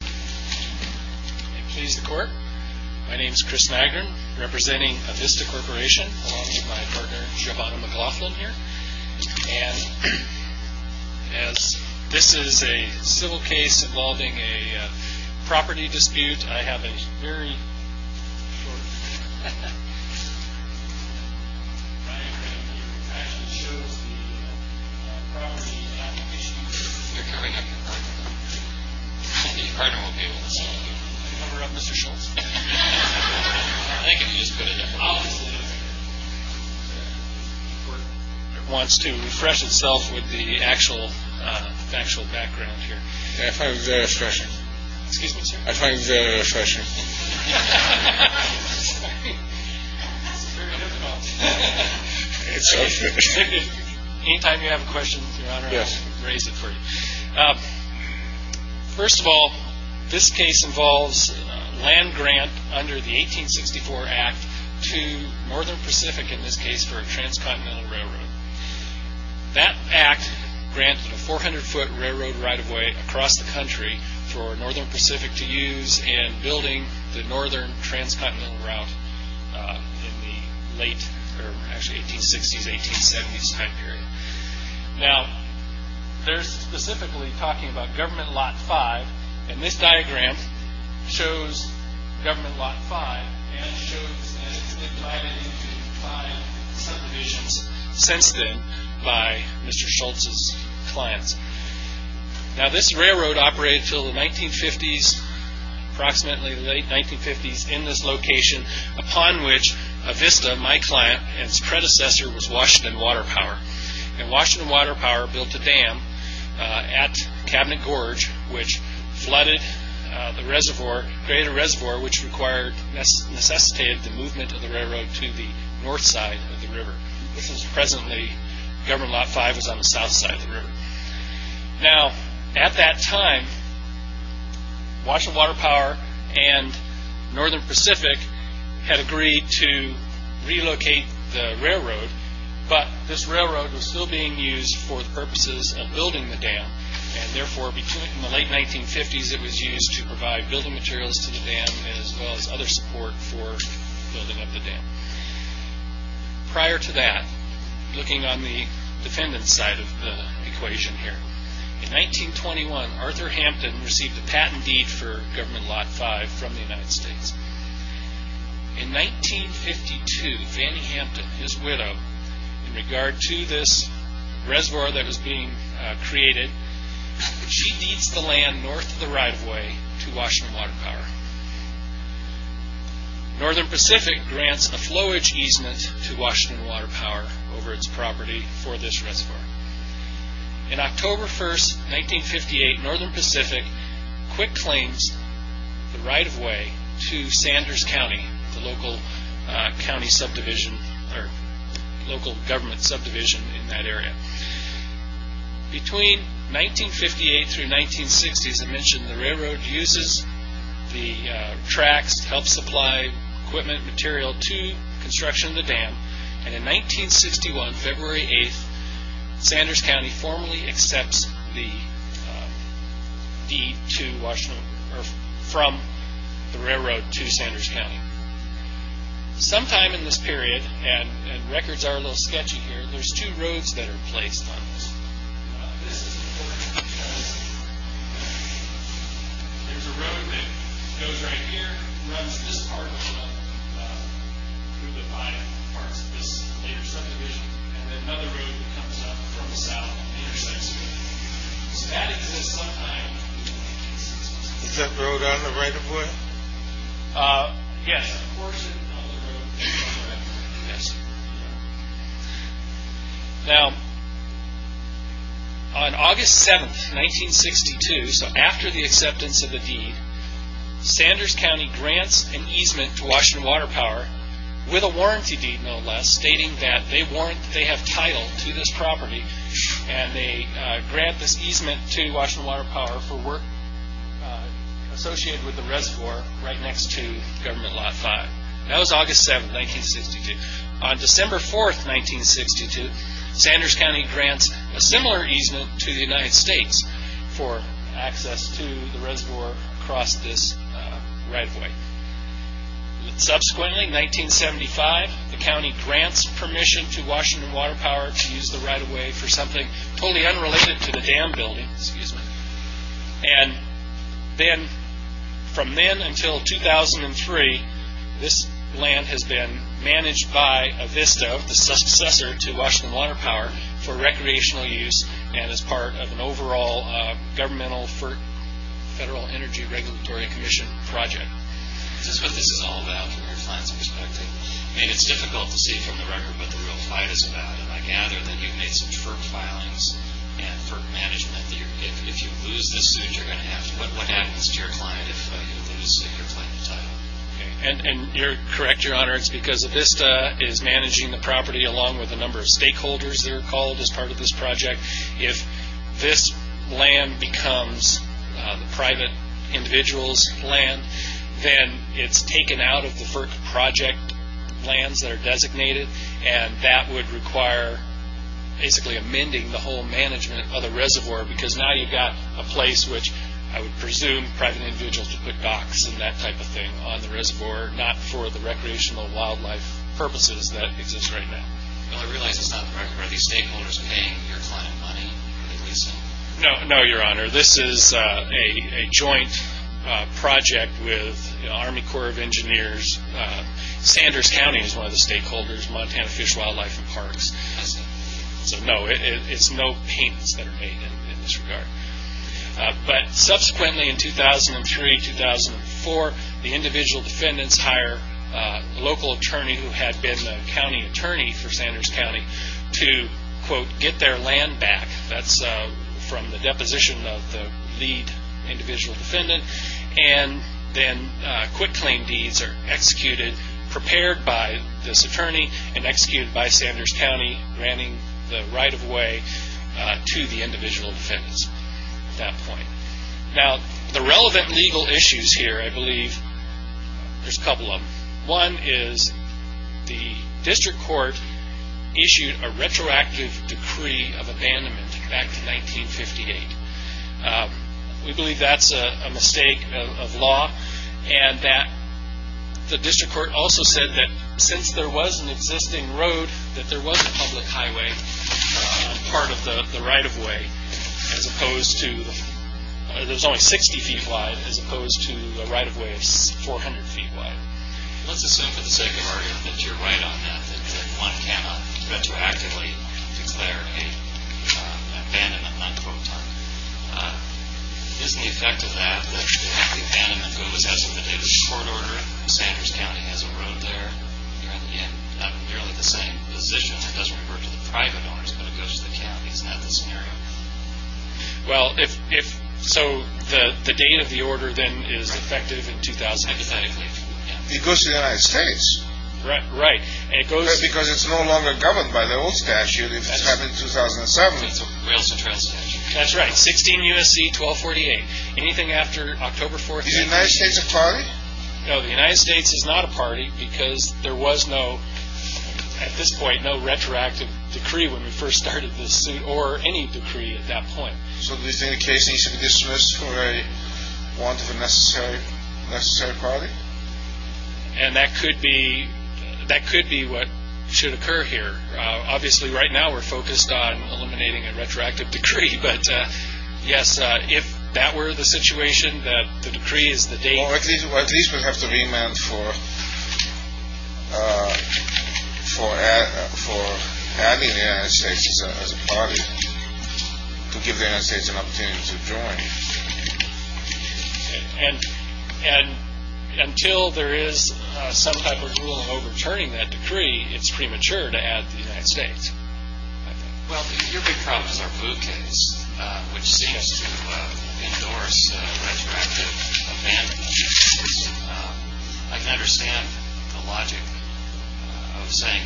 May it please the Court. My name is Chris Nagren, representing Avista Corporation, along with my partner, Giovanna McLaughlin, here. And as this is a civil case involving a property dispute, I have a very... My partner will be able to solve the number of officials. I think if you just put it opposite of... It wants to refresh itself with the actual factual background here. I find it very refreshing. Excuse me, sir? I find it very refreshing. It's very difficult. Any time you have a question, Your Honor, I'll raise it for you. First of all, this case involves land grant under the 1864 Act to Northern Pacific, in this case, for a transcontinental railroad. That Act granted a 400-foot railroad right-of-way across the country for Northern Pacific to use in building the northern transcontinental route in the late... Actually, 1860s, 1870s time period. Now, they're specifically talking about Government Lot 5, and this diagram shows Government Lot 5, and shows that it's been divided into five subdivisions since then by Mr. Schultz's clients. Now, this railroad operated until the 1950s, approximately the late 1950s, in this location, upon which Avista, my client, and its predecessor was Washington Water Power. And Washington Water Power built a dam at Cabinet Gorge, which flooded the reservoir, created a reservoir which required, necessitated the movement of the railroad to the north side of the river. This is presently, Government Lot 5 is on the south side of the river. Now, at that time, Washington Water Power and Northern Pacific had agreed to relocate the railroad, but this railroad was still being used for the purposes of building the dam, and therefore, in the late 1950s, it was used to provide building materials to the dam, as well as other support for building up the dam. Prior to that, looking on the defendant's side of the equation here, in 1921, Arthur Hampton received a patent deed for Government Lot 5 from the United States. In 1952, Fannie Hampton, his widow, in regard to this reservoir that was being created, she deeds the land north of the right-of-way to Washington Water Power. Northern Pacific grants a flowage easement to Washington Water Power over its property for this reservoir. In October 1st, 1958, Northern Pacific quit claims the right-of-way to Sanders County, the local county subdivision, or local government subdivision in that area. Between 1958 through 1960, as I mentioned, the railroad uses the tracks to help supply equipment material to construction of the dam, and in 1961, February 8th, Sanders County formally accepts the deed from the railroad to Sanders County. Sometime in this period, and records are a little sketchy here, there's two roads that are placed on this road. This is important because there's a road that goes right here, runs this part of the line through the five parts of this later subdivision, and then another road comes up from the south and intersects here. So that exists sometime in the 1960s. Is that road on the right-of-way? Now, on August 7th, 1962, so after the acceptance of the deed, Sanders County grants an easement to Washington Water Power with a warranty deed, no less, stating that they have title to this property, and they grant this easement to Washington Water Power for work associated with the reservoir right next to Government Lot 5. That was August 7th, 1962. On December 4th, 1962, Sanders County grants a similar easement to the United States for access to the reservoir across this right-of-way. Subsequently, 1975, the county grants permission to Washington Water Power to use the right-of-way for something totally unrelated to the dam building. From then until 2003, this land has been managed by Avisto, the successor to Washington Water Power, for recreational use and as part of an overall governmental FERC, Federal Energy Regulatory Commission project. This is what this is all about from your plan's perspective. It's difficult to see from the record what the real fight is about, but I gather that you've made some FERC filings and FERC management. If you lose this suit, what happens to your client if you lose your plan to title? You're correct, Your Honor, it's because Avisto is managing the property along with a number of stakeholders that are called as part of this project. If this land becomes the private individual's land, then it's taken out of the FERC project lands that are designated, and that would require basically amending the whole management of the reservoir because now you've got a place which I would presume private individuals would put docks and that type of thing on the reservoir, not for the recreational wildlife purposes that exist right now. I realize that's not the record. Are these stakeholders paying your client money? No, Your Honor, this is a joint project with the Army Corps of Engineers. Sanders County is one of the stakeholders, Montana Fish, Wildlife, and Parks. So no, it's no payments that are made in this regard. Subsequently, in 2003-2004, the individual defendants hire a local attorney who had been a county attorney for Sanders County to, quote, get their land back. That's from the deposition of the lead individual defendant. Then quick claim deeds are executed, prepared by this attorney, and executed by Sanders County, granting the right-of-way to the individual defendants at that point. Now, the relevant legal issues here, I believe, there's a couple of them. One is the district court issued a retroactive decree of abandonment back in 1958. We believe that's a mistake of law, and that the district court also said that since there was an existing road, that there was a public highway, part of the right-of-way, as opposed to—there's only 60 feet wide, as opposed to the right-of-way of 400 feet wide. Let's assume for the sake of argument that you're right on that, that one cannot retroactively declare an abandonment, unquote, isn't the effect of that that the abandonment, if it was as of the date of the court order in Sanders County, has a road there in nearly the same position? It doesn't refer to the private owners, but it goes to the counties. Isn't that the scenario? Well, if—so the date of the order, then, is effective in 2000— Hypothetically. It goes to the United States. Right. And it goes— Because it's no longer governed by the old statute, if it's happened in 2007. It's a rail-to-trail statute. That's right. 16 U.S.C. 1248. Anything after October 4th— Is the United States a party? No, the United States is not a party, because there was no, at this point, no retroactive decree when we first started this suit, or any decree at that point. So do you think the case needs to be dismissed for a want of a necessary party? And that could be what should occur here. Obviously, right now, we're focused on eliminating a retroactive decree, but, yes, if that were the situation, that the decree is the date— Well, at least we'll have to remand for having the United States as a party And until there is some type of rule overturning that decree, it's premature to add the United States. Well, your big problem is our food case, which seems to endorse retroactive amendment. I can understand the logic of saying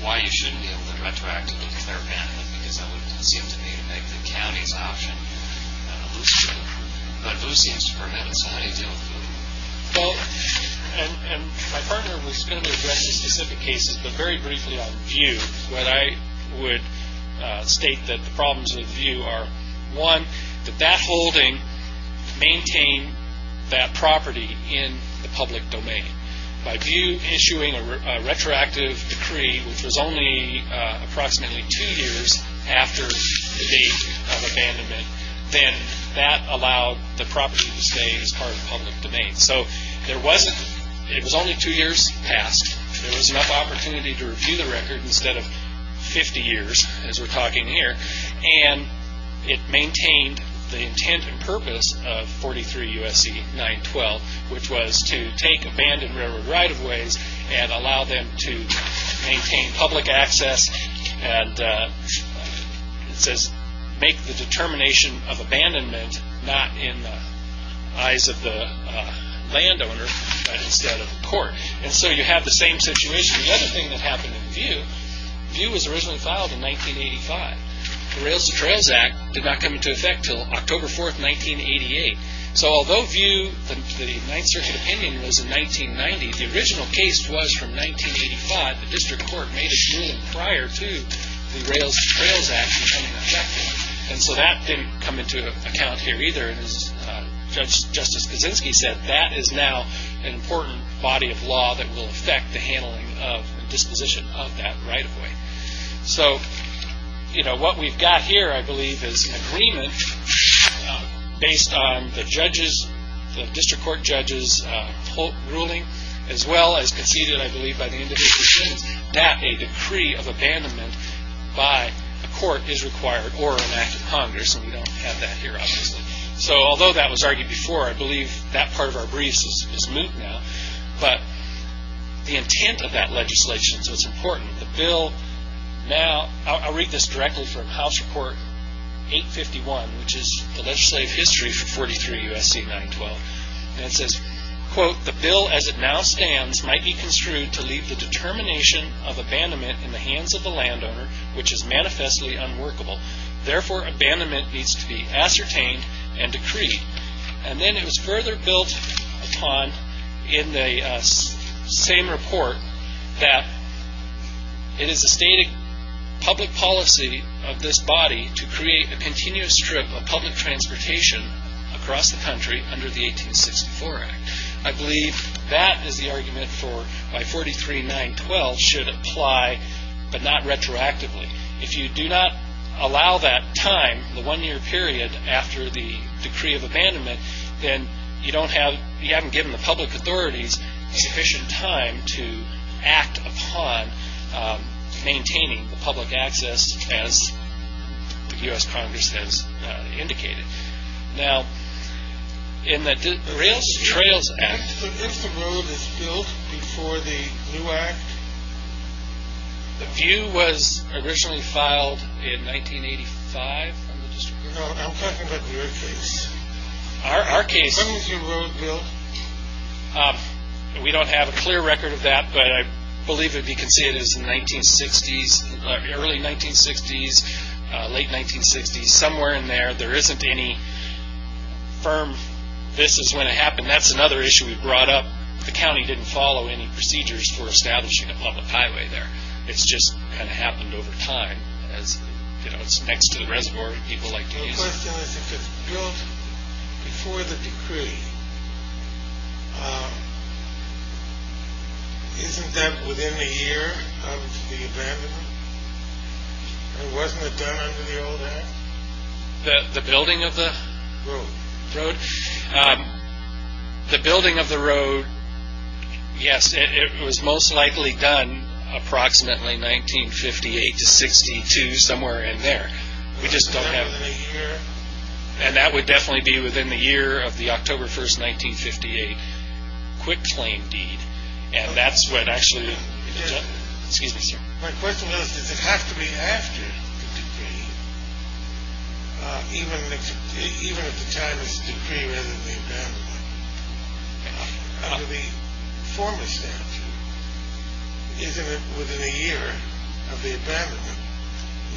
why you shouldn't be able to retroactively declare amendment, because that would seem to me to make the county's option a loose joke. But who seems to permit us to have any deal with food? Well, and my partner was going to address these specific cases, but very briefly on VIEW, what I would state that the problems with VIEW are, one, that that holding maintained that property in the public domain. By VIEW issuing a retroactive decree, which was only approximately two years after the date of abandonment, then that allowed the property to stay as part of the public domain. So it was only two years past. There was enough opportunity to review the record instead of 50 years, as we're talking here, and it maintained the intent and purpose of 43 U.S.C. 912, which was to take abandoned railroad right-of-ways and allow them to maintain public access and make the determination of abandonment not in the eyes of the landowner, but instead of the court. And so you have the same situation. The other thing that happened in VIEW, VIEW was originally filed in 1985. The Rails to Trails Act did not come into effect until October 4, 1988. So although VIEW, the Ninth Circuit opinion was in 1990, the original case was from 1985. The district court made a ruling prior to the Rails to Trails Act becoming effective. And so that didn't come into account here either. And as Justice Kaczynski said, that is now an important body of law that will affect the handling of and disposition of that right-of-way. So what we've got here, I believe, is an agreement based on the district court judges' ruling, as well as conceded, I believe, by the individual defendants, that a decree of abandonment by a court is required or an act of Congress. And we don't have that here, obviously. So although that was argued before, I believe that part of our briefs is moot now. But the intent of that legislation is what's important. The bill now, I'll read this directly from House Report 851, which is the legislative history for 43 U.S.C. 912. And it says, quote, The bill as it now stands might be construed to leave the determination of abandonment in the hands of the landowner, which is manifestly unworkable. Therefore, abandonment needs to be ascertained and decreed. And then it was further built upon in the same report that it is the stated public policy of this body to create a continuous strip of public transportation across the country under the 1864 Act. I believe that is the argument for why 43 912 should apply, but not retroactively. If you do not allow that time, the one-year period after the decree of abandonment, then you haven't given the public authorities sufficient time to act upon maintaining the public access as the U.S. Congress has indicated. Now, in the Trails Act... But if the road is built before the new act? The view was originally filed in 1985. I'm talking about your case. Our case. When was your road built? We don't have a clear record of that, but I believe that you can see it is the 1960s, early 1960s, late 1960s. Somewhere in there, there isn't any firm, this is when it happened. That's another issue we brought up. The county didn't follow any procedures for establishing a public highway there. It's just kind of happened over time. It's next to the reservoir that people like to use. My question is, if it's built before the decree, isn't that within a year of the abandonment? And wasn't it done under the old act? The building of the... Road. The building of the road, yes, it was most likely done approximately 1958 to 1962, somewhere in there. We just don't have... Within a year? And that would definitely be within the year of the October 1, 1958, quick claim deed. And that's what actually... Excuse me, sir. My question was, does it have to be after the decree? Even if the time is decree rather than the abandonment, under the former statute, isn't it within a year of the abandonment,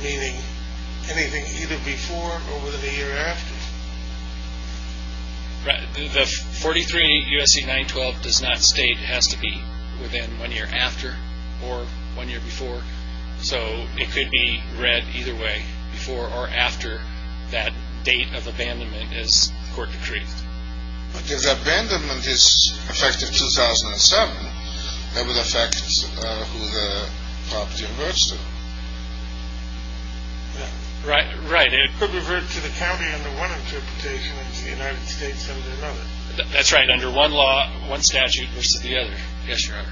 meaning anything either before or within a year after? The 43 U.S.C. 912 does not state it has to be within one year after or one year before, so it could be read either way, before or after that date of abandonment as court decreed. But if the abandonment is effective 2007, that would affect who the property reverts to. Right. It could revert to the county under one interpretation and to the United States under another. That's right, under one law, one statute versus the other. Yes, Your Honor.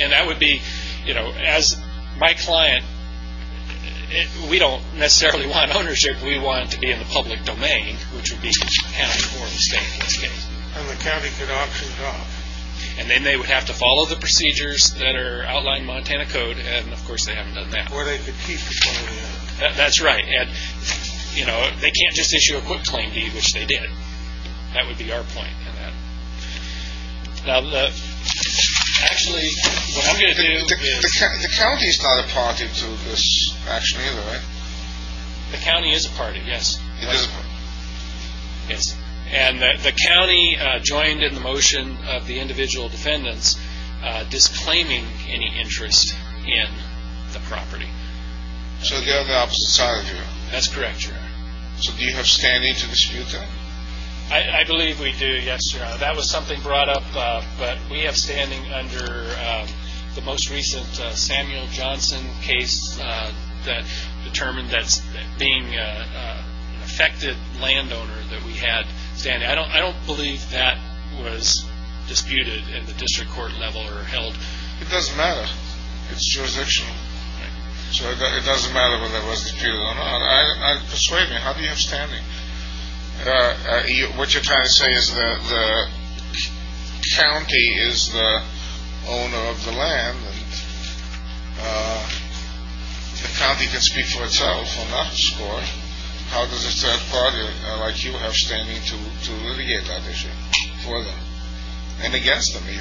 And that would be, you know, as my client, we don't necessarily want ownership. We want to be in the public domain, which would be county or state in this case. And the county could auction it off. And then they would have to follow the procedures that are outlined in Montana Code, and of course they haven't done that. Or they could keep the claim deed. That's right. And, you know, they can't just issue a quick claim deed, which they did. That would be our point on that. Now, actually, what I'm going to do is… The county is not a party to this action either, right? The county is a party, yes. It is a party. Yes. And the county joined in the motion of the individual defendants disclaiming any interest in the property. So they're on the opposite side of you. That's correct, Your Honor. So do you have standing to dispute them? I believe we do, yes, Your Honor. That was something brought up, but we have standing under the most recent Samuel Johnson case that determined that being an affected landowner that we had standing. I don't believe that was disputed at the district court level or held. It doesn't matter. It's jurisdictional. So it doesn't matter whether it was disputed or not. Persuade me. How do you have standing? What you're trying to say is that the county is the owner of the land, and the county can speak for itself or not, or how does a third party like you have standing to litigate that issue for them and against them, do you?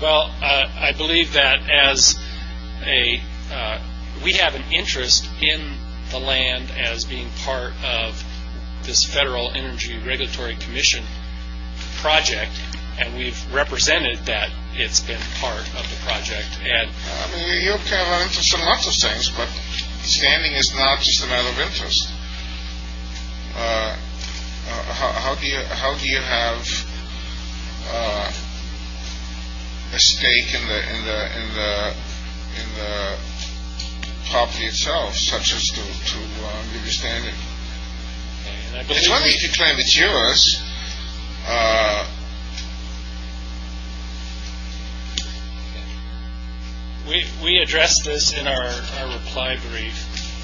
Well, I believe that we have an interest in the land as being part of this Federal Energy Regulatory Commission project, and we've represented that it's been part of the project. I mean, you have an interest in lots of things, but standing is not just a matter of interest. How do you have a stake in the property itself such as to understand it? It's only if you claim it's yours. We addressed this in our reply brief,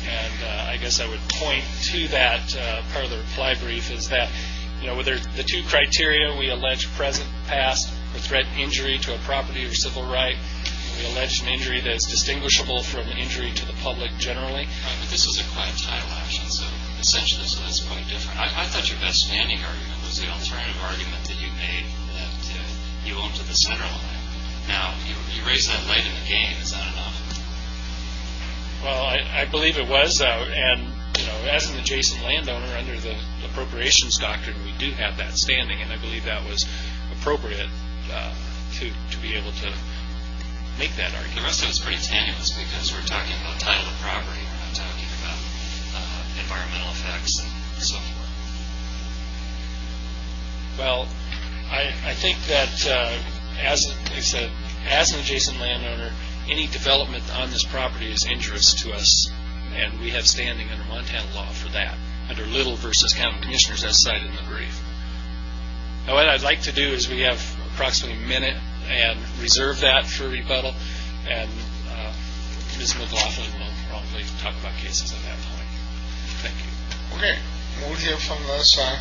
and I guess I would point to that part of the reply brief is that with the two criteria we allege present, past, or threat injury to a property or civil right, we allege an injury that is distinguishable from injury to the public generally. Right, but this is a quiet title action, so essentially that's quite different. I thought your best standing argument was the alternative argument that you made that you own to the center line. Now, you raise that light in the game. Is that enough? Well, I believe it was, and as an adjacent landowner under the appropriations doctrine, we do have that standing, and I believe that was appropriate to be able to make that argument. The rest of it is pretty tenuous because we're talking about title of property. We're not talking about environmental effects and so forth. Well, I think that as an adjacent landowner, any development on this property is injurious to us, and we have standing under Montana law for that, under Little v. County Commissioners as cited in the brief. Now, what I'd like to do is we have approximately a minute and reserve that for rebuttal, and Ms. McLaughlin will probably talk about cases at that point. Thank you. Okay, we'll move here from the side.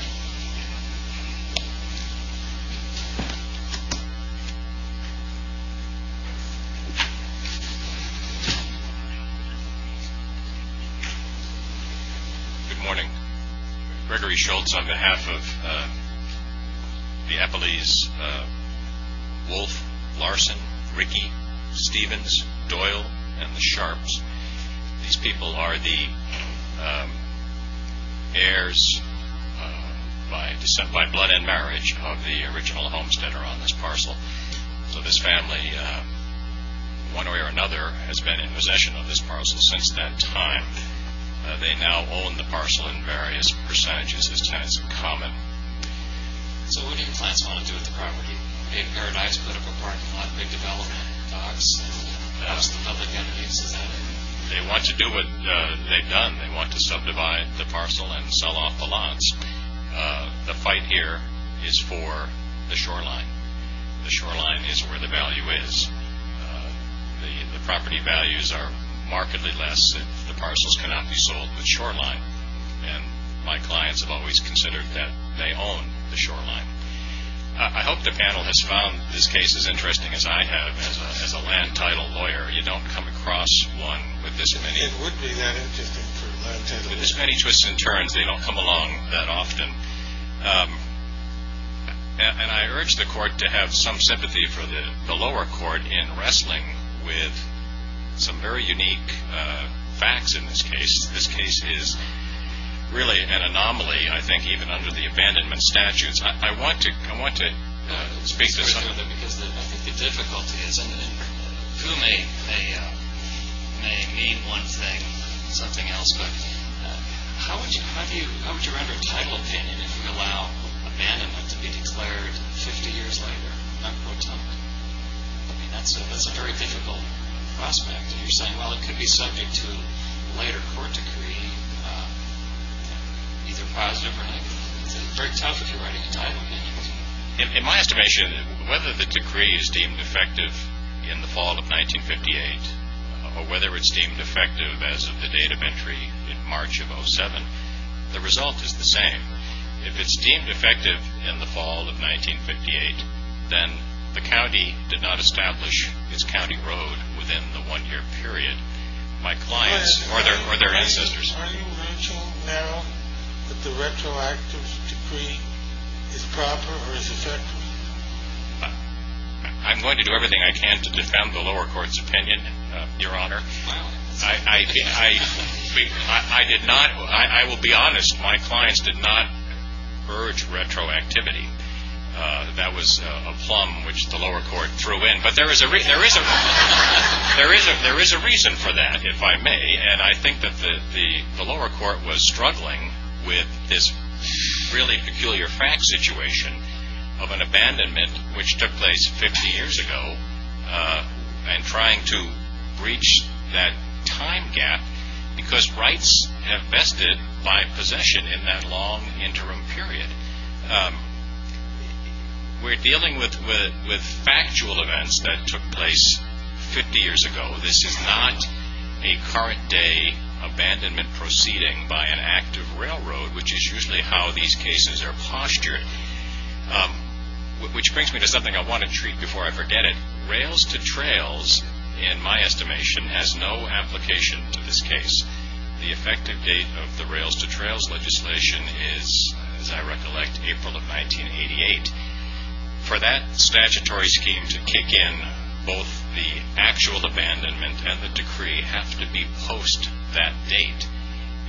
Good morning. Gregory Schultz on behalf of the Eppleys, Wolfe, Larson, Rickey, Stevens, Doyle, and the Sharps. These people are the heirs by descent, by blood and marriage, of the original homesteader on this parcel. So this family, one way or another, has been in possession of this parcel since that time. They now own the parcel in various percentages as tenants in common. So what do your clients want to do with the property? They have paradise political parking lot, big development, docks, and most of the public entities. Is that it? They want to do what they've done. They want to subdivide the parcel and sell off the lots. The fight here is for the shoreline. The shoreline is where the value is. The property values are markedly less if the parcels cannot be sold with shoreline, and my clients have always considered that they own the shoreline. I hope the panel has found this case as interesting as I have. As a land title lawyer, you don't come across one with this many twists and turns. They don't come along that often. And I urge the court to have some sympathy for the lower court in wrestling with some very unique facts in this case. This case is really an anomaly, I think, even under the abandonment statutes. I want to speak to some of them. I think the difficulty is, and who may mean one thing and something else, but how would you render title opinion if you allow abandonment to be declared 50 years later? That's a very difficult prospect. You're saying, well, it could be subject to a later court decree, either positive or negative. It's very tough if you're writing a title opinion. In my estimation, whether the decree is deemed effective in the fall of 1958 or whether it's deemed effective as of the date of entry in March of 07, the result is the same. If it's deemed effective in the fall of 1958, then the county did not establish its county road within the one-year period. My clients or their ancestors— Are you urging now that the retroactive decree is proper or is effective? I'm going to do everything I can to defend the lower court's opinion, Your Honor. I will be honest. My clients did not urge retroactivity. That was a plum which the lower court threw in, but there is a reason for that, if I may, and I think that the lower court was struggling with this really peculiar fact situation of an abandonment which took place 50 years ago and trying to breach that time gap because rights have vested by possession in that long interim period. We're dealing with factual events that took place 50 years ago. This is not a current-day abandonment proceeding by an active railroad, which is usually how these cases are postured, which brings me to something I want to treat before I forget it. Rails-to-trails, in my estimation, has no application to this case. The effective date of the rails-to-trails legislation is, as I recollect, April of 1988. For that statutory scheme to kick in, both the actual abandonment and the decree have to be post that date.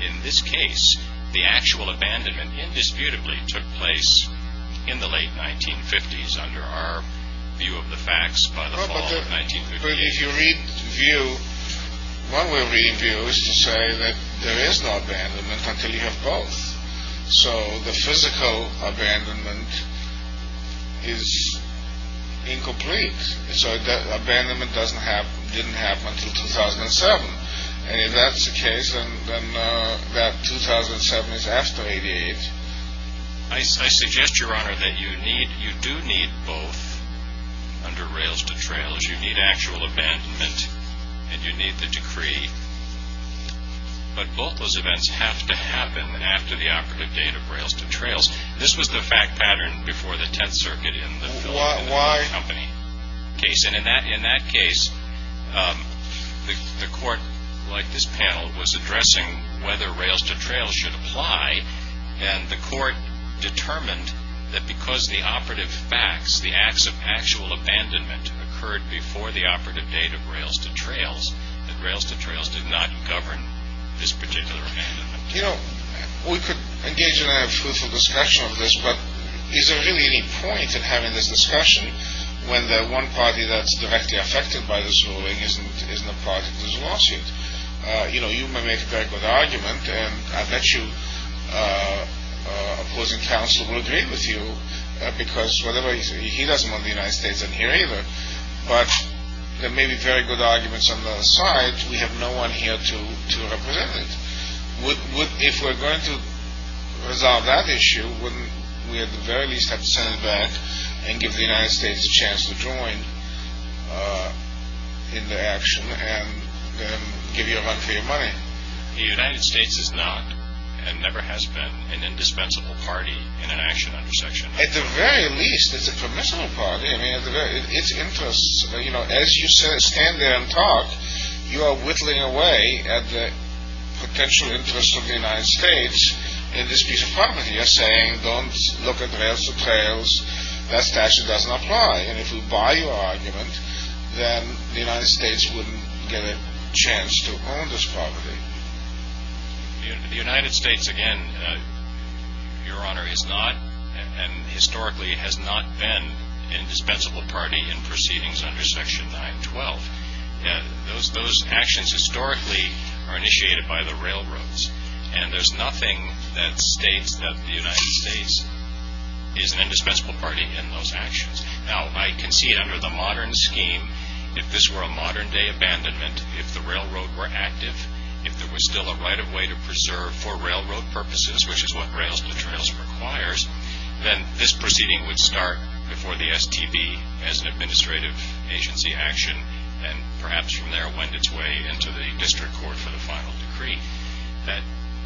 In this case, the actual abandonment indisputably took place in the late 1950s under our view of the facts by the fall of 1950. If you read VIEW, one way to read VIEW is to say that there is no abandonment until you have both. So the physical abandonment is incomplete. So abandonment didn't happen until 2007. And if that's the case, then that 2007 is after 88. I suggest, Your Honor, that you do need both under rails-to-trails. You need actual abandonment, and you need the decree. But both those events have to happen after the operative date of rails-to-trails. This was the fact pattern before the Tenth Circuit in the Philadelphia Company case. And in that case, the court, like this panel, was addressing whether rails-to-trails should apply. And the court determined that because the operative facts, the acts of actual abandonment, occurred before the operative date of rails-to-trails, that rails-to-trails did not govern this particular abandonment. You know, we could engage in a fruitful discussion of this, but is there really any point in having this discussion when the one party that's directly affected by this ruling isn't a party to this lawsuit? You know, you may make a very good argument, and I bet you opposing counsel will agree with you, because whatever he says, he doesn't want the United States in here either. But there may be very good arguments on the other side. We have no one here to represent it. If we're going to resolve that issue, wouldn't we at the very least have to send it back and give the United States a chance to join in the action and give you a run for your money? The United States is not and never has been an indispensable party in an action under section. At the very least, it's a permissible party. I mean, it's interests, you know, as you stand there and talk, you are whittling away at the potential interests of the United States in this piece of parliament. You're saying don't look at rails to trails. That statute doesn't apply, and if we buy your argument, then the United States wouldn't get a chance to own this property. The United States, again, Your Honor, is not and historically has not been an indispensable party in proceedings under section 912. Those actions historically are initiated by the railroads, and there's nothing that states that the United States is an indispensable party in those actions. Now, I can see under the modern scheme, if this were a modern-day abandonment, if the railroad were active, if there was still a right of way to preserve for railroad purposes, which is what rails to trails requires, then this proceeding would start before the STB as an administrative agency action and perhaps from there went its way into the district court for the final decree.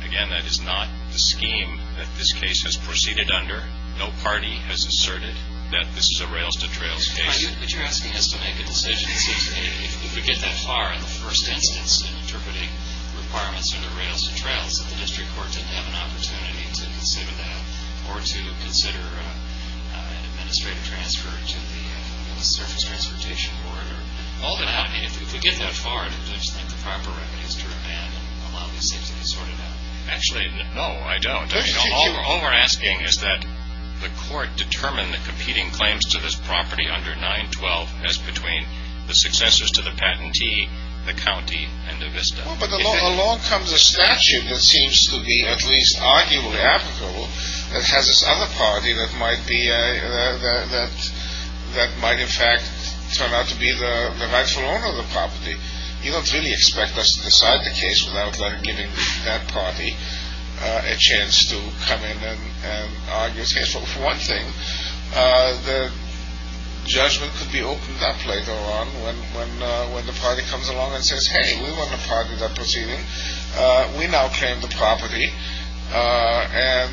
Again, that is not the scheme that this case has proceeded under. No party has asserted that this is a rails to trails case. But you're asking us to make a decision. If we get that far in the first instance in interpreting requirements under rails to trails, that the district court didn't have an opportunity to consider that If we get that far, do you think the proper remedies to abandon allow these things to be sorted out? Actually, no, I don't. All we're asking is that the court determine the competing claims to this property under 912 as between the successors to the patentee, the county, and the Vista. But along comes a statute that seems to be at least arguably applicable that has this other party that might in fact turn out to be the rightful owner of the property. You don't really expect us to decide the case without giving that party a chance to come in and argue a case. For one thing, the judgment could be opened up later on when the party comes along and says, Hey, we want to part with that proceeding. We now claim the property and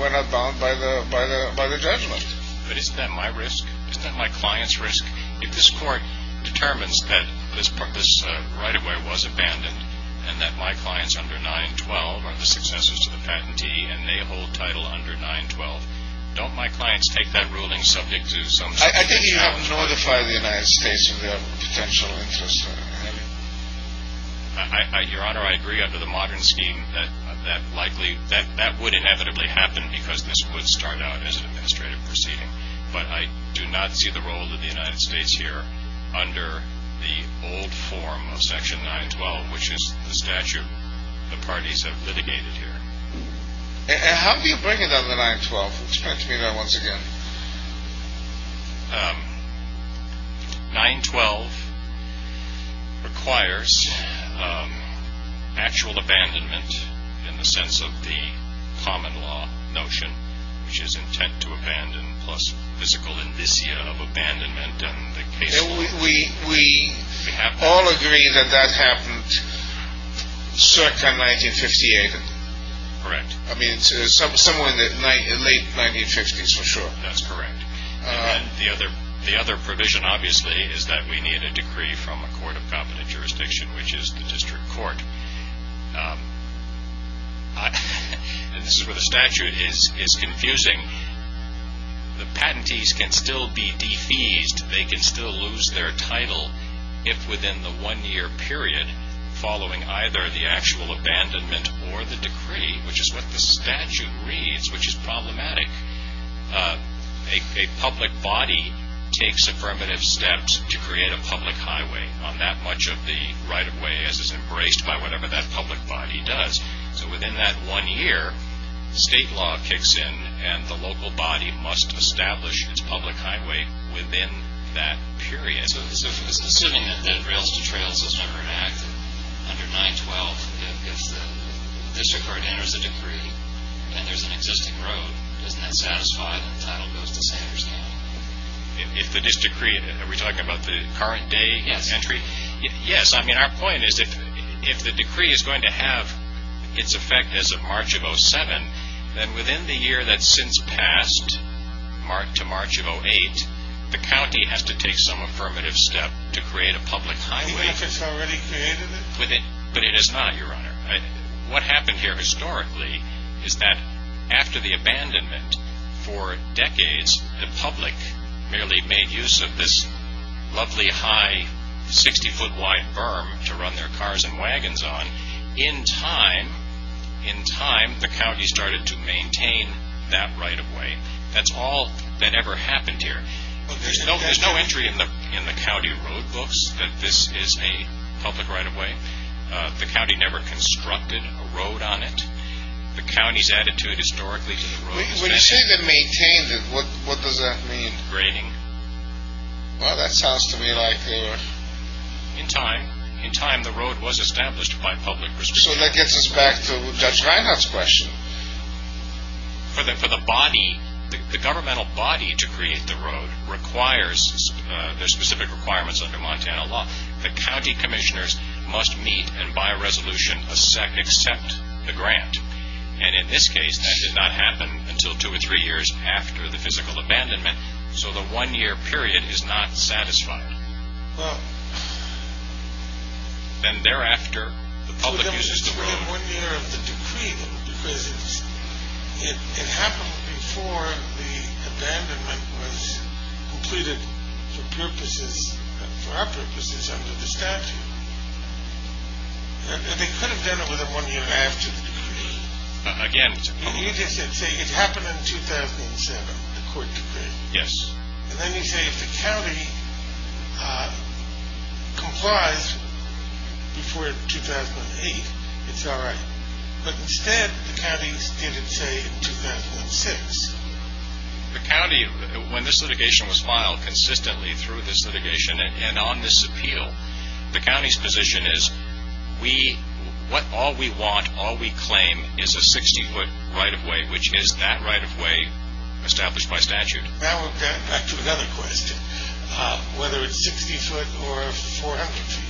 we're not bound by the judgment. But isn't that my risk? Isn't that my client's risk? If this court determines that this right-of-way was abandoned and that my clients under 912 are the successors to the patentee and they hold title under 912, don't my clients take that ruling subject to some... I think you have to notify the United States of their potential interest. Your Honor, I agree under the modern scheme that that would inevitably happen because this would start out as an administrative proceeding. But I do not see the role of the United States here under the old form of section 912, which is the statute the parties have litigated here. How do you bring it under 912? Explain to me that once again. 912 requires actual abandonment in the sense of the common law notion, which is intent to abandon plus physical indicia of abandonment and the case... We all agree that that happened circa 1958. Correct. I mean, somewhere in the late 1950s for sure. That's correct. And the other provision, obviously, is that we need a decree from a court of competent jurisdiction, which is the district court. This is where the statute is confusing. The patentees can still be defeased. They can still lose their title if within the one-year period following either the actual abandonment or the decree, which is what the statute reads, which is problematic, a public body takes affirmative steps to create a public highway on that much of the right-of-way as is embraced by whatever that public body does. So within that one year, state law kicks in, and the local body must establish its public highway within that period. So assuming that Rails to Trails was never enacted under 912, if the district court enters a decree and there's an existing road, doesn't that satisfy that the title goes to Sanders County? If the district created it, are we talking about the current day entry? Yes. Yes, I mean, our point is if the decree is going to have its effect as of March of 07, then within the year that's since passed to March of 08, the county has to take some affirmative step to create a public highway. I mean, if it's already created it? But it is not, Your Honor. What happened here historically is that after the abandonment for decades, the public merely made use of this lovely high 60-foot wide berm to run their cars and wagons on. In time, in time, the county started to maintain that right-of-way. That's all that ever happened here. There's no entry in the county road books that this is a public right-of-way. The county never constructed a road on it. The county's attitude historically to the road has been... When you say they maintained it, what does that mean? Graining. Well, that sounds to me like they were... In time, in time, the road was established by public restrictions. So that gets us back to Judge Reinhart's question. For the body, the governmental body to create the road requires, there's specific requirements under Montana law, the county commissioners must meet and by resolution accept the grant. And in this case, that did not happen until two or three years after the physical abandonment. So the one-year period is not satisfied. Then thereafter, the public uses the road. One year of the decree, because it happened before the abandonment was completed for purposes, for our purposes, under the statute. They could have done it within one year after the decree. Again... It happened in 2007, the court decree. Yes. And then you say if the county complies before 2008, it's all right. But instead, the county did it, say, in 2006. The county, when this litigation was filed consistently through this litigation and on this appeal, the county's position is we, what all we want, all we claim is a 60-foot right-of-way, which is that right-of-way established by statute. Now we're back to another question. Whether it's 60-foot or 400 feet.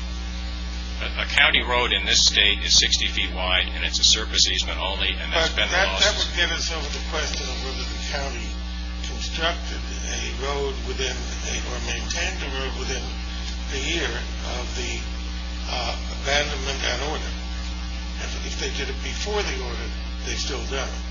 A county road in this state is 60 feet wide and it's a surface easement only. But that would get us over the question of whether the county constructed a road or maintained a road within a year of the abandonment and order. If they did it before the order, they still done it.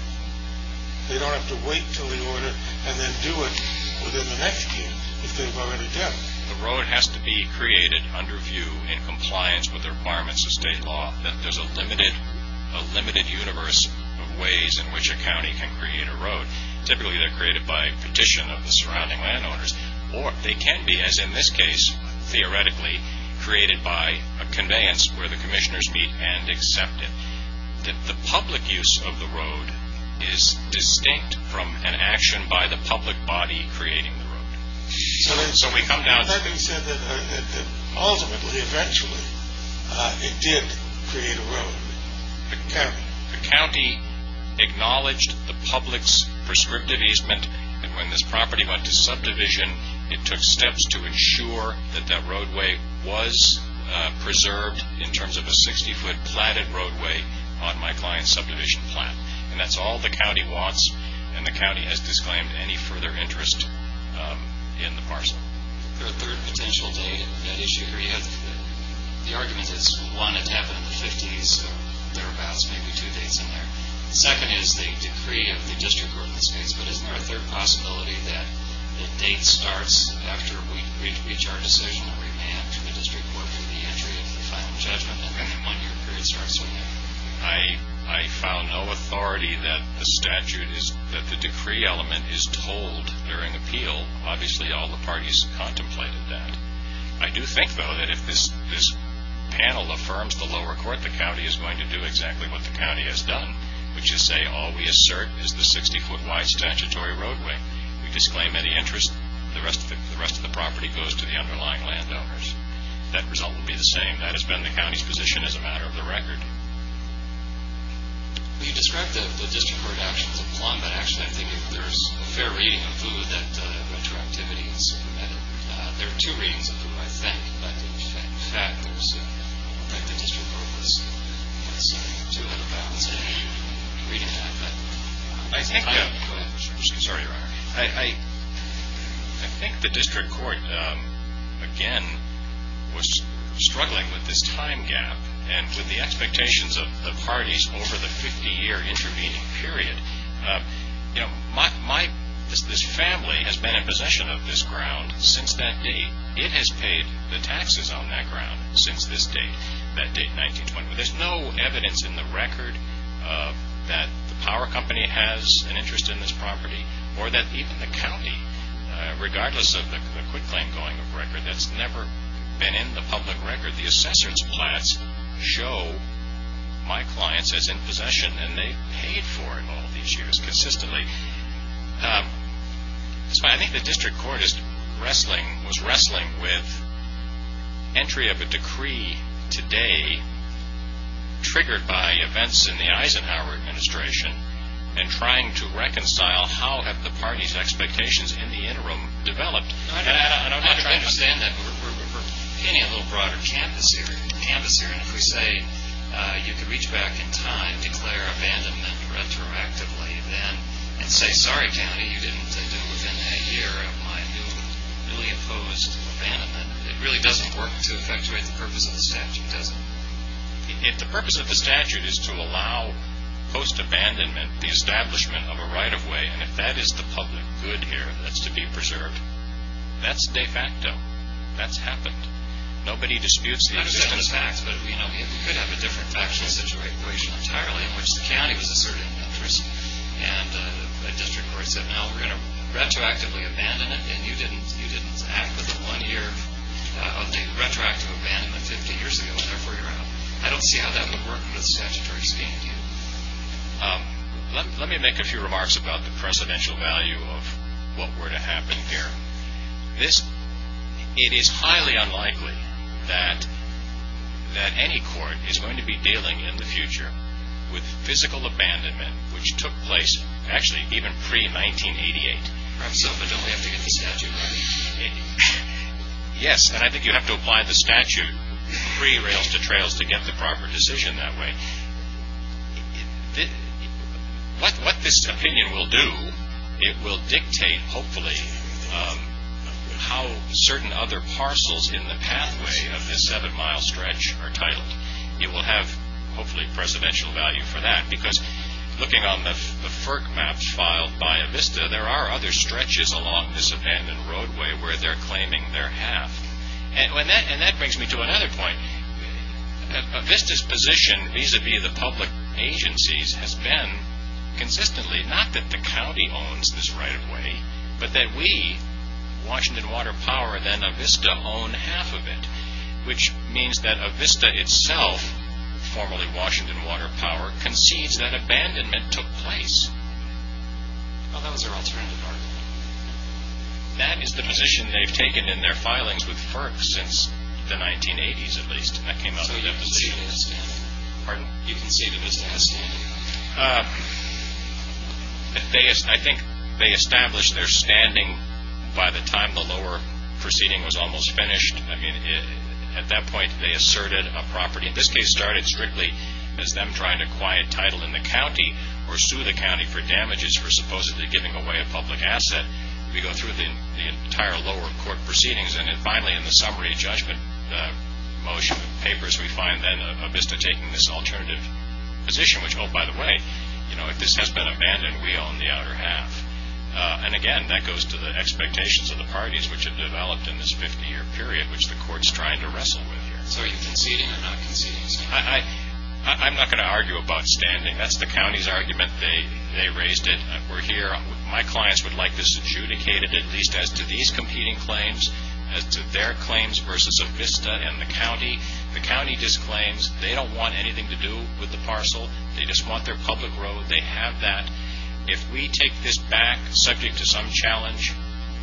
They don't have to wait until the order and then do it within the next year if they've already done it. The road has to be created under view in compliance with the requirements of state law that there's a limited universe of ways in which a county can create a road. Typically, they're created by petition of the surrounding landowners. Or they can be, as in this case, theoretically, created by a conveyance where the commissioners meet and accept it. The public use of the road is distinct from an action by the public body creating the road. So having said that, ultimately, eventually, it did create a road. The county acknowledged the public's prescriptive easement. And when this property went to subdivision, it took steps to ensure that that roadway was preserved in terms of a 60-foot platted roadway on my client's subdivision plan. And that's all the county wants. And the county has disclaimed any further interest in the parcel. The third potential issue here, the argument is, one, it happened in the 50s. So thereabouts may be two dates in there. Second is the decree of the district court in this case. But isn't there a third possibility that the date starts after we reach our decision and we'll remand to the district court for the entry of the final judgment when the one-year period starts? I found no authority that the statute is, that the decree element is told during appeal. Obviously, all the parties contemplated that. I do think, though, that if this panel affirms the lower court, the county is going to do exactly what the county has done, which is say all we assert is the 60-foot wide statutory roadway. We disclaim any interest. The rest of the property goes to the underlying landowners. That result will be the same. That has been the county's position as a matter of the record. You described the district court action as a plumb, but actually I think there's a fair reading of who that retroactivity is. There are two readings of who I think. In fact, I think the district court was too out of bounds in reading that. I think the district court, again, was struggling with this time gap and with the expectations of the parties over the 50-year intervening period. This family has been in possession of this ground since that date. It has paid the taxes on that ground since this date, that date 1920. There's no evidence in the record that the power company has an interest in this property or that even the county, regardless of the quitclaim going of record, that's never been in the public record. The assessor's plats show my clients as in possession, and they've paid for it all these years consistently. That's why I think the district court was wrestling with entry of a decree today triggered by events in the Eisenhower administration and trying to reconcile how have the parties' expectations in the interim developed. I understand that. We're hitting a little broader canvas here. If we say you can reach back in time, declare abandonment retroactively then, and say, sorry, county, you didn't do within a year of my newly imposed abandonment, it really doesn't work to effectuate the purpose of the statute, does it? If the purpose of the statute is to allow post-abandonment the establishment of a right-of-way, and if that is the public good here that's to be preserved, that's de facto. That's happened. Nobody disputes the existence of that. I understand the facts, but we could have a different factual situation entirely in which the county was asserted an interest, and a district court said, no, we're going to retroactively abandon it, and you didn't act within one year of the retroactive abandonment 50 years ago, therefore you're out. I don't see how that would work with statutory standing. Let me make a few remarks about the precedential value of what were to happen here. It is highly unlikely that any court is going to be dealing in the future with physical abandonment which took place actually even pre-1988. Perhaps so, but don't we have to get the statute right? Yes, and I think you have to apply the statute pre-rails to trails to get the proper decision that way. What this opinion will do, it will dictate, hopefully, how certain other parcels in the pathway of this seven-mile stretch are titled. It will have, hopefully, precedential value for that, because looking on the FERC maps filed by Avista, there are other stretches along this abandoned roadway where they're claiming their half, and that brings me to another point. Avista's position vis-a-vis the public agencies has been consistently, not that the county owns this right-of-way, but that we, Washington Water Power, then Avista own half of it, which means that Avista itself, formerly Washington Water Power, concedes that abandonment took place. Well, that was their alternative argument. That is the position they've taken in their filings with FERC since the 1980s, at least. That came out of the deposition. Pardon? You can see that it's nasty. I think they established their standing by the time the lower proceeding was almost finished. I mean, at that point, they asserted a property. This case started strictly as them trying to acquire a title in the county or sue the county for damages for supposedly giving away a public asset. We go through the entire lower court proceedings, and then finally in the summary judgment motion of papers, we find then Avista taking this alternative position, which, oh, by the way, if this has been abandoned, we own the outer half. And again, that goes to the expectations of the parties which have developed in this 50-year period, which the court's trying to wrestle with here. So are you conceding or not conceding? I'm not going to argue about standing. That's the county's argument. They raised it. We're here. My clients would like this adjudicated, at least as to these competing claims, as to their claims versus Avista and the county. The county disclaims they don't want anything to do with the parcel. They just want their public road. They have that. If we take this back subject to some challenge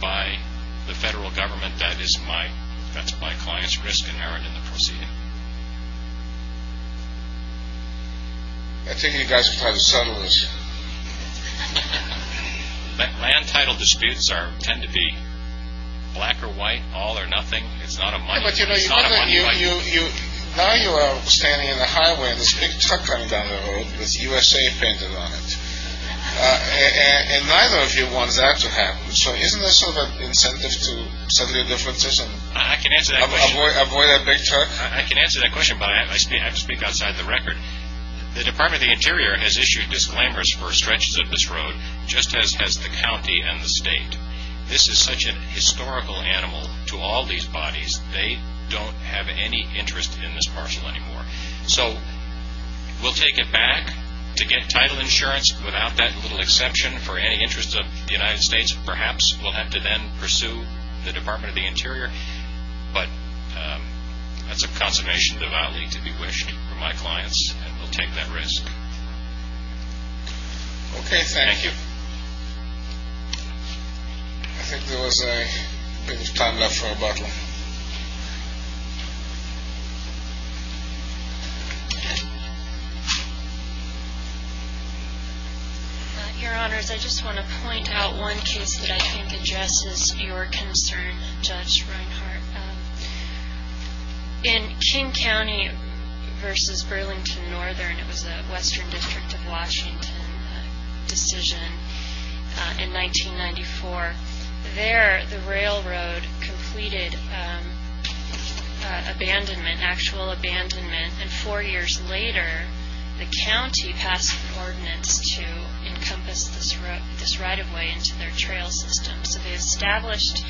by the federal government, that's my client's risk and error in the proceeding. I think you guys are trying to settle this. Land title disputes tend to be black or white, all or nothing. It's not a money issue. Now you are standing in the highway and there's a big truck coming down the road with USA painted on it, and neither of you want that to happen. So isn't there sort of an incentive to settle your differences and avoid that big truck? I can answer that question, but I have to speak outside the record. The Department of the Interior has issued disclaimers for stretches of this road, just as has the county and the state. This is such a historical animal to all these bodies. They don't have any interest in this parcel anymore. So we'll take it back to get title insurance, without that little exception, for any interest of the United States. Perhaps we'll have to then pursue the Department of the Interior. But that's a consummation devoutly to be wished for my clients, and we'll take that risk. Okay, thank you. I think there was a bit of time left for rebuttal. Your Honors, I just want to point out one case that I think addresses your concern, Judge Reinhart. In King County versus Burlington Northern, it was the Western District of Washington decision in 1994. There, the railroad completed actual abandonment, and four years later, the county passed an ordinance to encompass this right-of-way into their trail system. So they established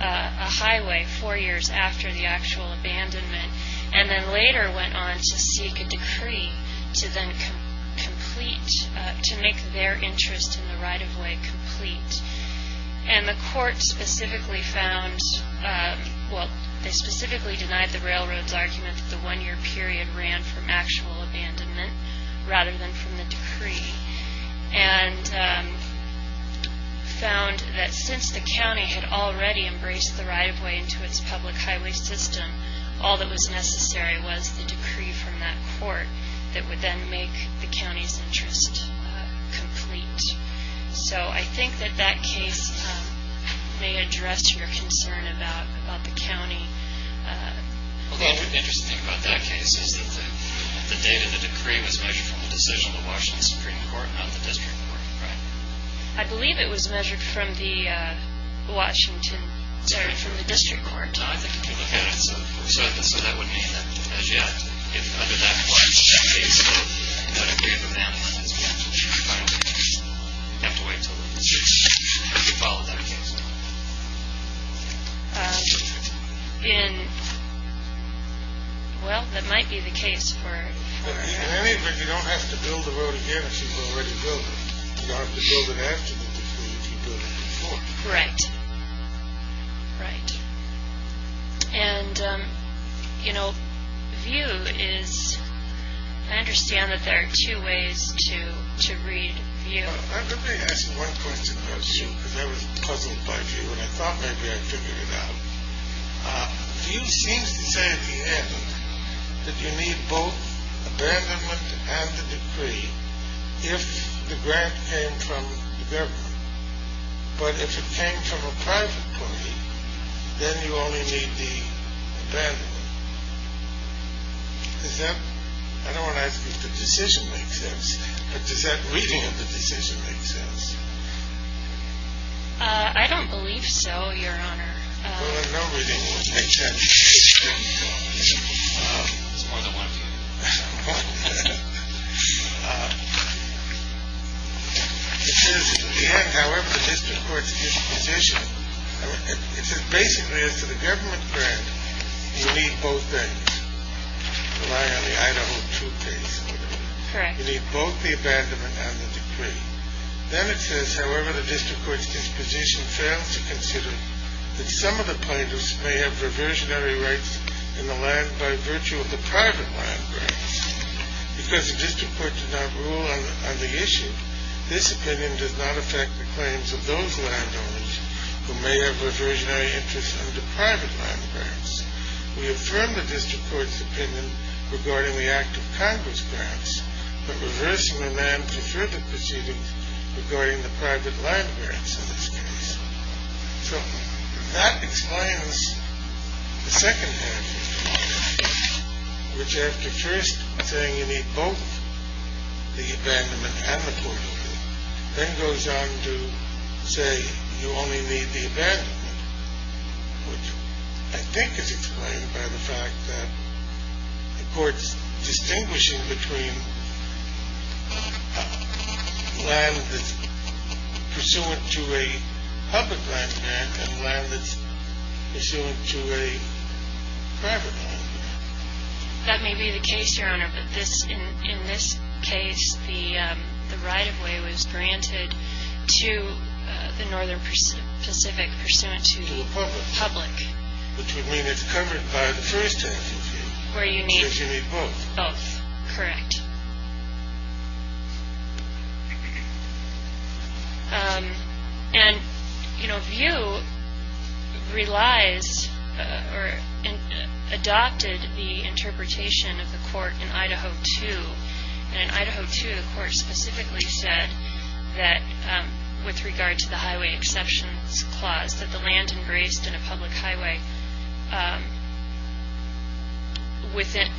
a highway four years after the actual abandonment, and then later went on to seek a decree to make their interest in the right-of-way complete. And the court specifically denied the railroad's argument that the one-year period ran from actual abandonment, rather than from the decree, and found that since the county had already embraced the right-of-way into its public highway system, all that was necessary was the decree from that court that would then make the county's interest complete. So I think that that case may address your concern about the county. Well, the interesting thing about that case is that the date of the decree was measured from the decision of the Washington Supreme Court, not the District Court, right? I believe it was measured from the Washington, sorry, from the District Court. No, I think you can look at it. So that would mean that, as yet, if under that clause, that case of the decree of abandonment is canceled, you have to wait until the decision. Have you followed that case? In... well, that might be the case for... In any event, you don't have to build a road again if you've already built it. You don't have to build it after the decree if you've built it before. Correct. Right. And, you know, VIEW is... I understand that there are two ways to read VIEW. Let me ask one question about VIEW, because I was puzzled by VIEW, and I thought maybe I'd figure it out. VIEW seems to say at the end that you need both abandonment and the decree if the grant came from the government. But if it came from a private company, then you only need the abandonment. Is that... I don't want to ask if the decision makes sense, but does that reading of the decision make sense? I don't believe so, Your Honor. Well, no reading would make that decision. It's more than one thing. It says at the end, however, the district court's disposition... It says basically as to the government grant, you need both things, relying on the Idaho 2 case. Correct. You need both the abandonment and the decree. Then it says, however, the district court's disposition fails to consider that some of the plaintiffs may have reversionary rights in the land by virtue of the private land grants. Because the district court did not rule on the issue, this opinion does not affect the claims of those landowners who may have reversionary interests under private land grants. We affirm the district court's opinion regarding the act of Congress grants, but reversionary men prefer the proceedings regarding the private land grants in this case. So that explains the second half, which after first saying you need both the abandonment and the decree, then goes on to say you only need the abandonment, which I think is explained by the fact that the court's distinguishing between land that's pursuant to a public land grant and land that's pursuant to a private land grant. That may be the case, Your Honor, but in this case the right-of-way was granted to the northern Pacific pursuant to the public. Which would mean it's covered by the first half of the view. Where you need both. Correct. And, you know, view relies or adopted the interpretation of the court in Idaho 2. And in Idaho 2, the court specifically said that with regard to the highway exceptions clause, that the land embraced in a public highway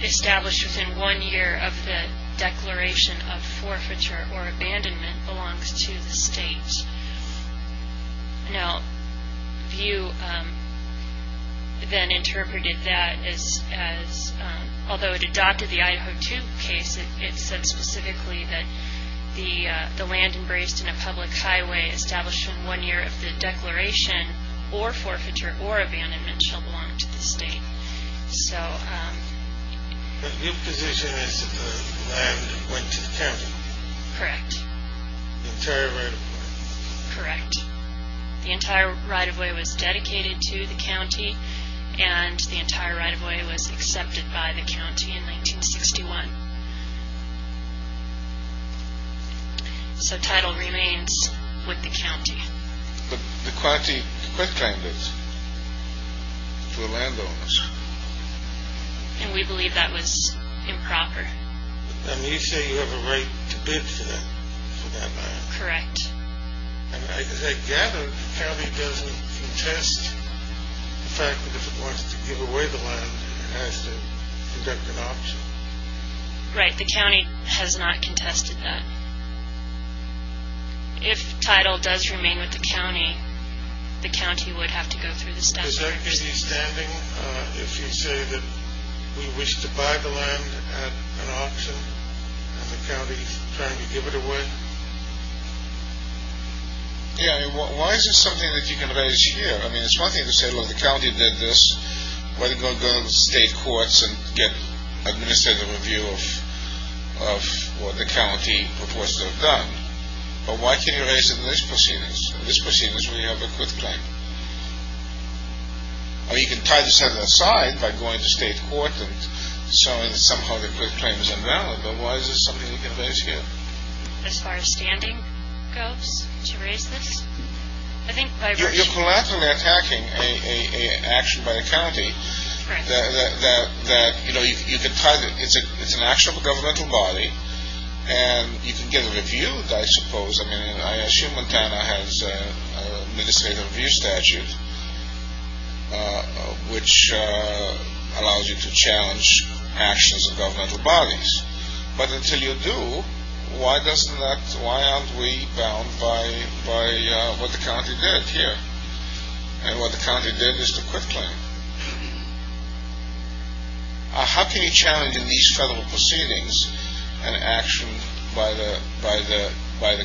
established within one year of the declaration of forfeiture or abandonment belongs to the state. Now, view then interpreted that as, although it adopted the Idaho 2 case, it said specifically that the land embraced in a public highway established in one year of the declaration or forfeiture or abandonment shall belong to the state. So... The view position is that the land went to the county. Correct. The entire right-of-way. Correct. The entire right-of-way was dedicated to the county, and the entire right-of-way was accepted by the county in 1961. So title remains with the county. But the county quit trying this to the landowners. And we believe that was improper. And you say you have a right to bid for that land. Correct. And as I gather, the county doesn't contest the fact that if it wants to give away the land, it has to conduct an auction. Right. The county has not contested that. If title does remain with the county, the county would have to go through the staff... Is there any standing if you say that we wish to buy the land at an auction, and the county is trying to give it away? Yeah. Why is this something that you can raise here? I mean, it's one thing to say, look, the county did this. Why don't you go to the state courts and get administrative review of what the county proposes to have done? But why can't you raise it in this proceedings? In this proceedings, we have a quit claim. I mean, you can tie the Senate aside by going to state court and showing that somehow the quit claim is invalid. But why is this something you can raise here? As far as standing goes to raise this? I think by... You're collaterally attacking an action by the county that, you know, you can tie... It's an actionable governmental body, and you can get it reviewed, I suppose. I mean, I assume Montana has an administrative review statute which allows you to challenge actions of governmental bodies. But until you do, why doesn't that... Why aren't we bound by what the county did here? And what the county did is the quit claim. How can you challenge in these federal proceedings an action by the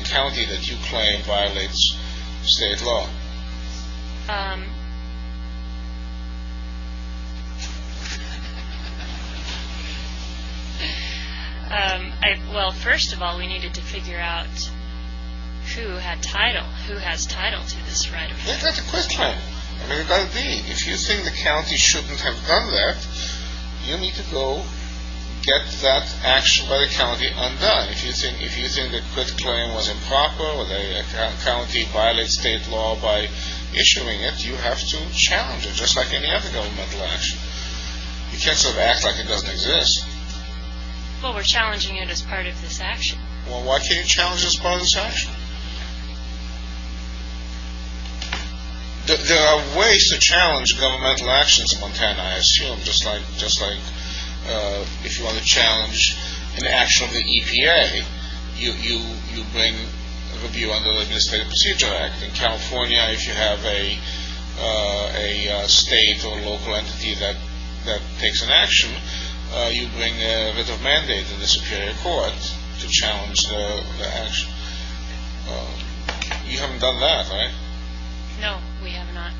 county that you claim violates state law? Well, first of all, we needed to figure out who had title, who has title to this right of claim. Who got the quit claim? I mean, there's got to be. If you think the county shouldn't have done that, you need to go get that action by the county undone. If you think the quit claim was improper, or the county violates state law by issuing it, you have to challenge it, just like any other governmental action. You can't sort of act like it doesn't exist. Well, we're challenging it as part of this action. Well, why can't you challenge it as part of this action? There are ways to challenge governmental actions in Montana, I assume, just like if you want to challenge an action of the EPA, you bring a review under the Administrative Procedure Act. In California, if you have a state or local entity that takes an action, you bring a writ of mandate to the Superior Court to challenge the action. You haven't done that, right? No, we have not.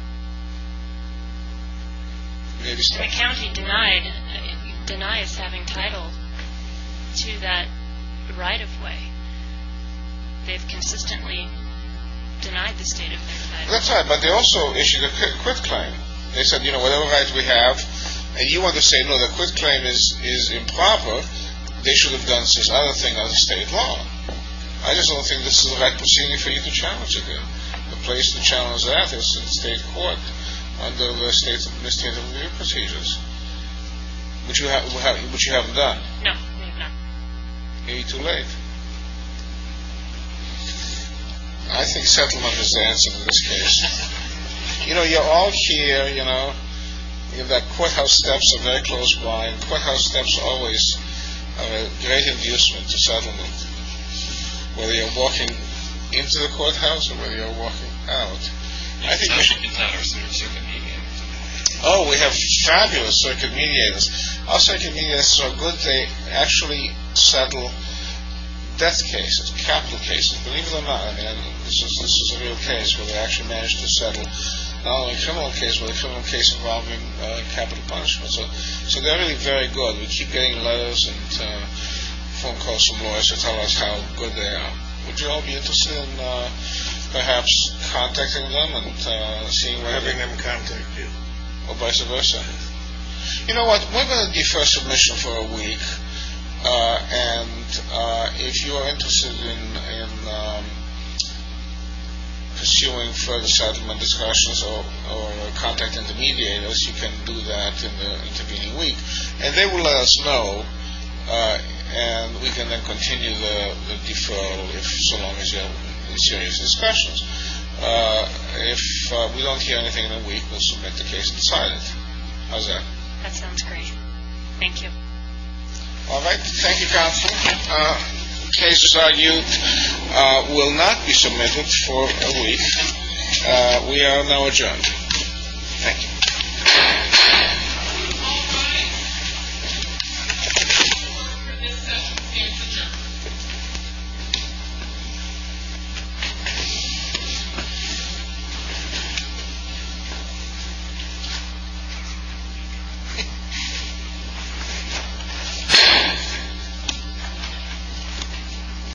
The county denies having title to that right of way. They've consistently denied the state of their right. That's right, but they also issued a quit claim. They said, you know, whatever rights we have, and you want to say, no, the quit claim is improper, they should have done this other thing under state law. I just don't think this is the right procedure for you to challenge again. The place to challenge that is in state court under the Administrative Review Procedures, which you haven't done. No, we have not. Maybe too late. I think settlement is the answer to this case. You know, you're all here, you know, that courthouse steps are very close by, and courthouse steps always are a great inducement to settlement, whether you're walking into the courthouse or whether you're walking out. It's actually because our circuit mediators are good. Oh, we have fabulous circuit mediators. Our circuit mediators are so good, they actually settle death cases, capital cases, believe it or not. This is a real case where they actually managed to settle not only a criminal case, but a criminal case involving capital punishment. So they're really very good. We keep getting letters and phone calls from lawyers to tell us how good they are. Would you all be interested in perhaps contacting them and seeing whether... Having them contact you. Or vice versa. You know what, we're going to defer submission for a week, and if you are interested in pursuing further settlement discussions or contacting the mediators, you can do that in the intervening week, and they will let us know, and we can then continue the deferral if so long as you're in serious discussions. If we don't hear anything in a week, we'll submit the case in silence. How's that? That sounds great. Thank you. All right. Thank you, counsel. Cases argued will not be submitted for a week. We are now adjourned. Thank you.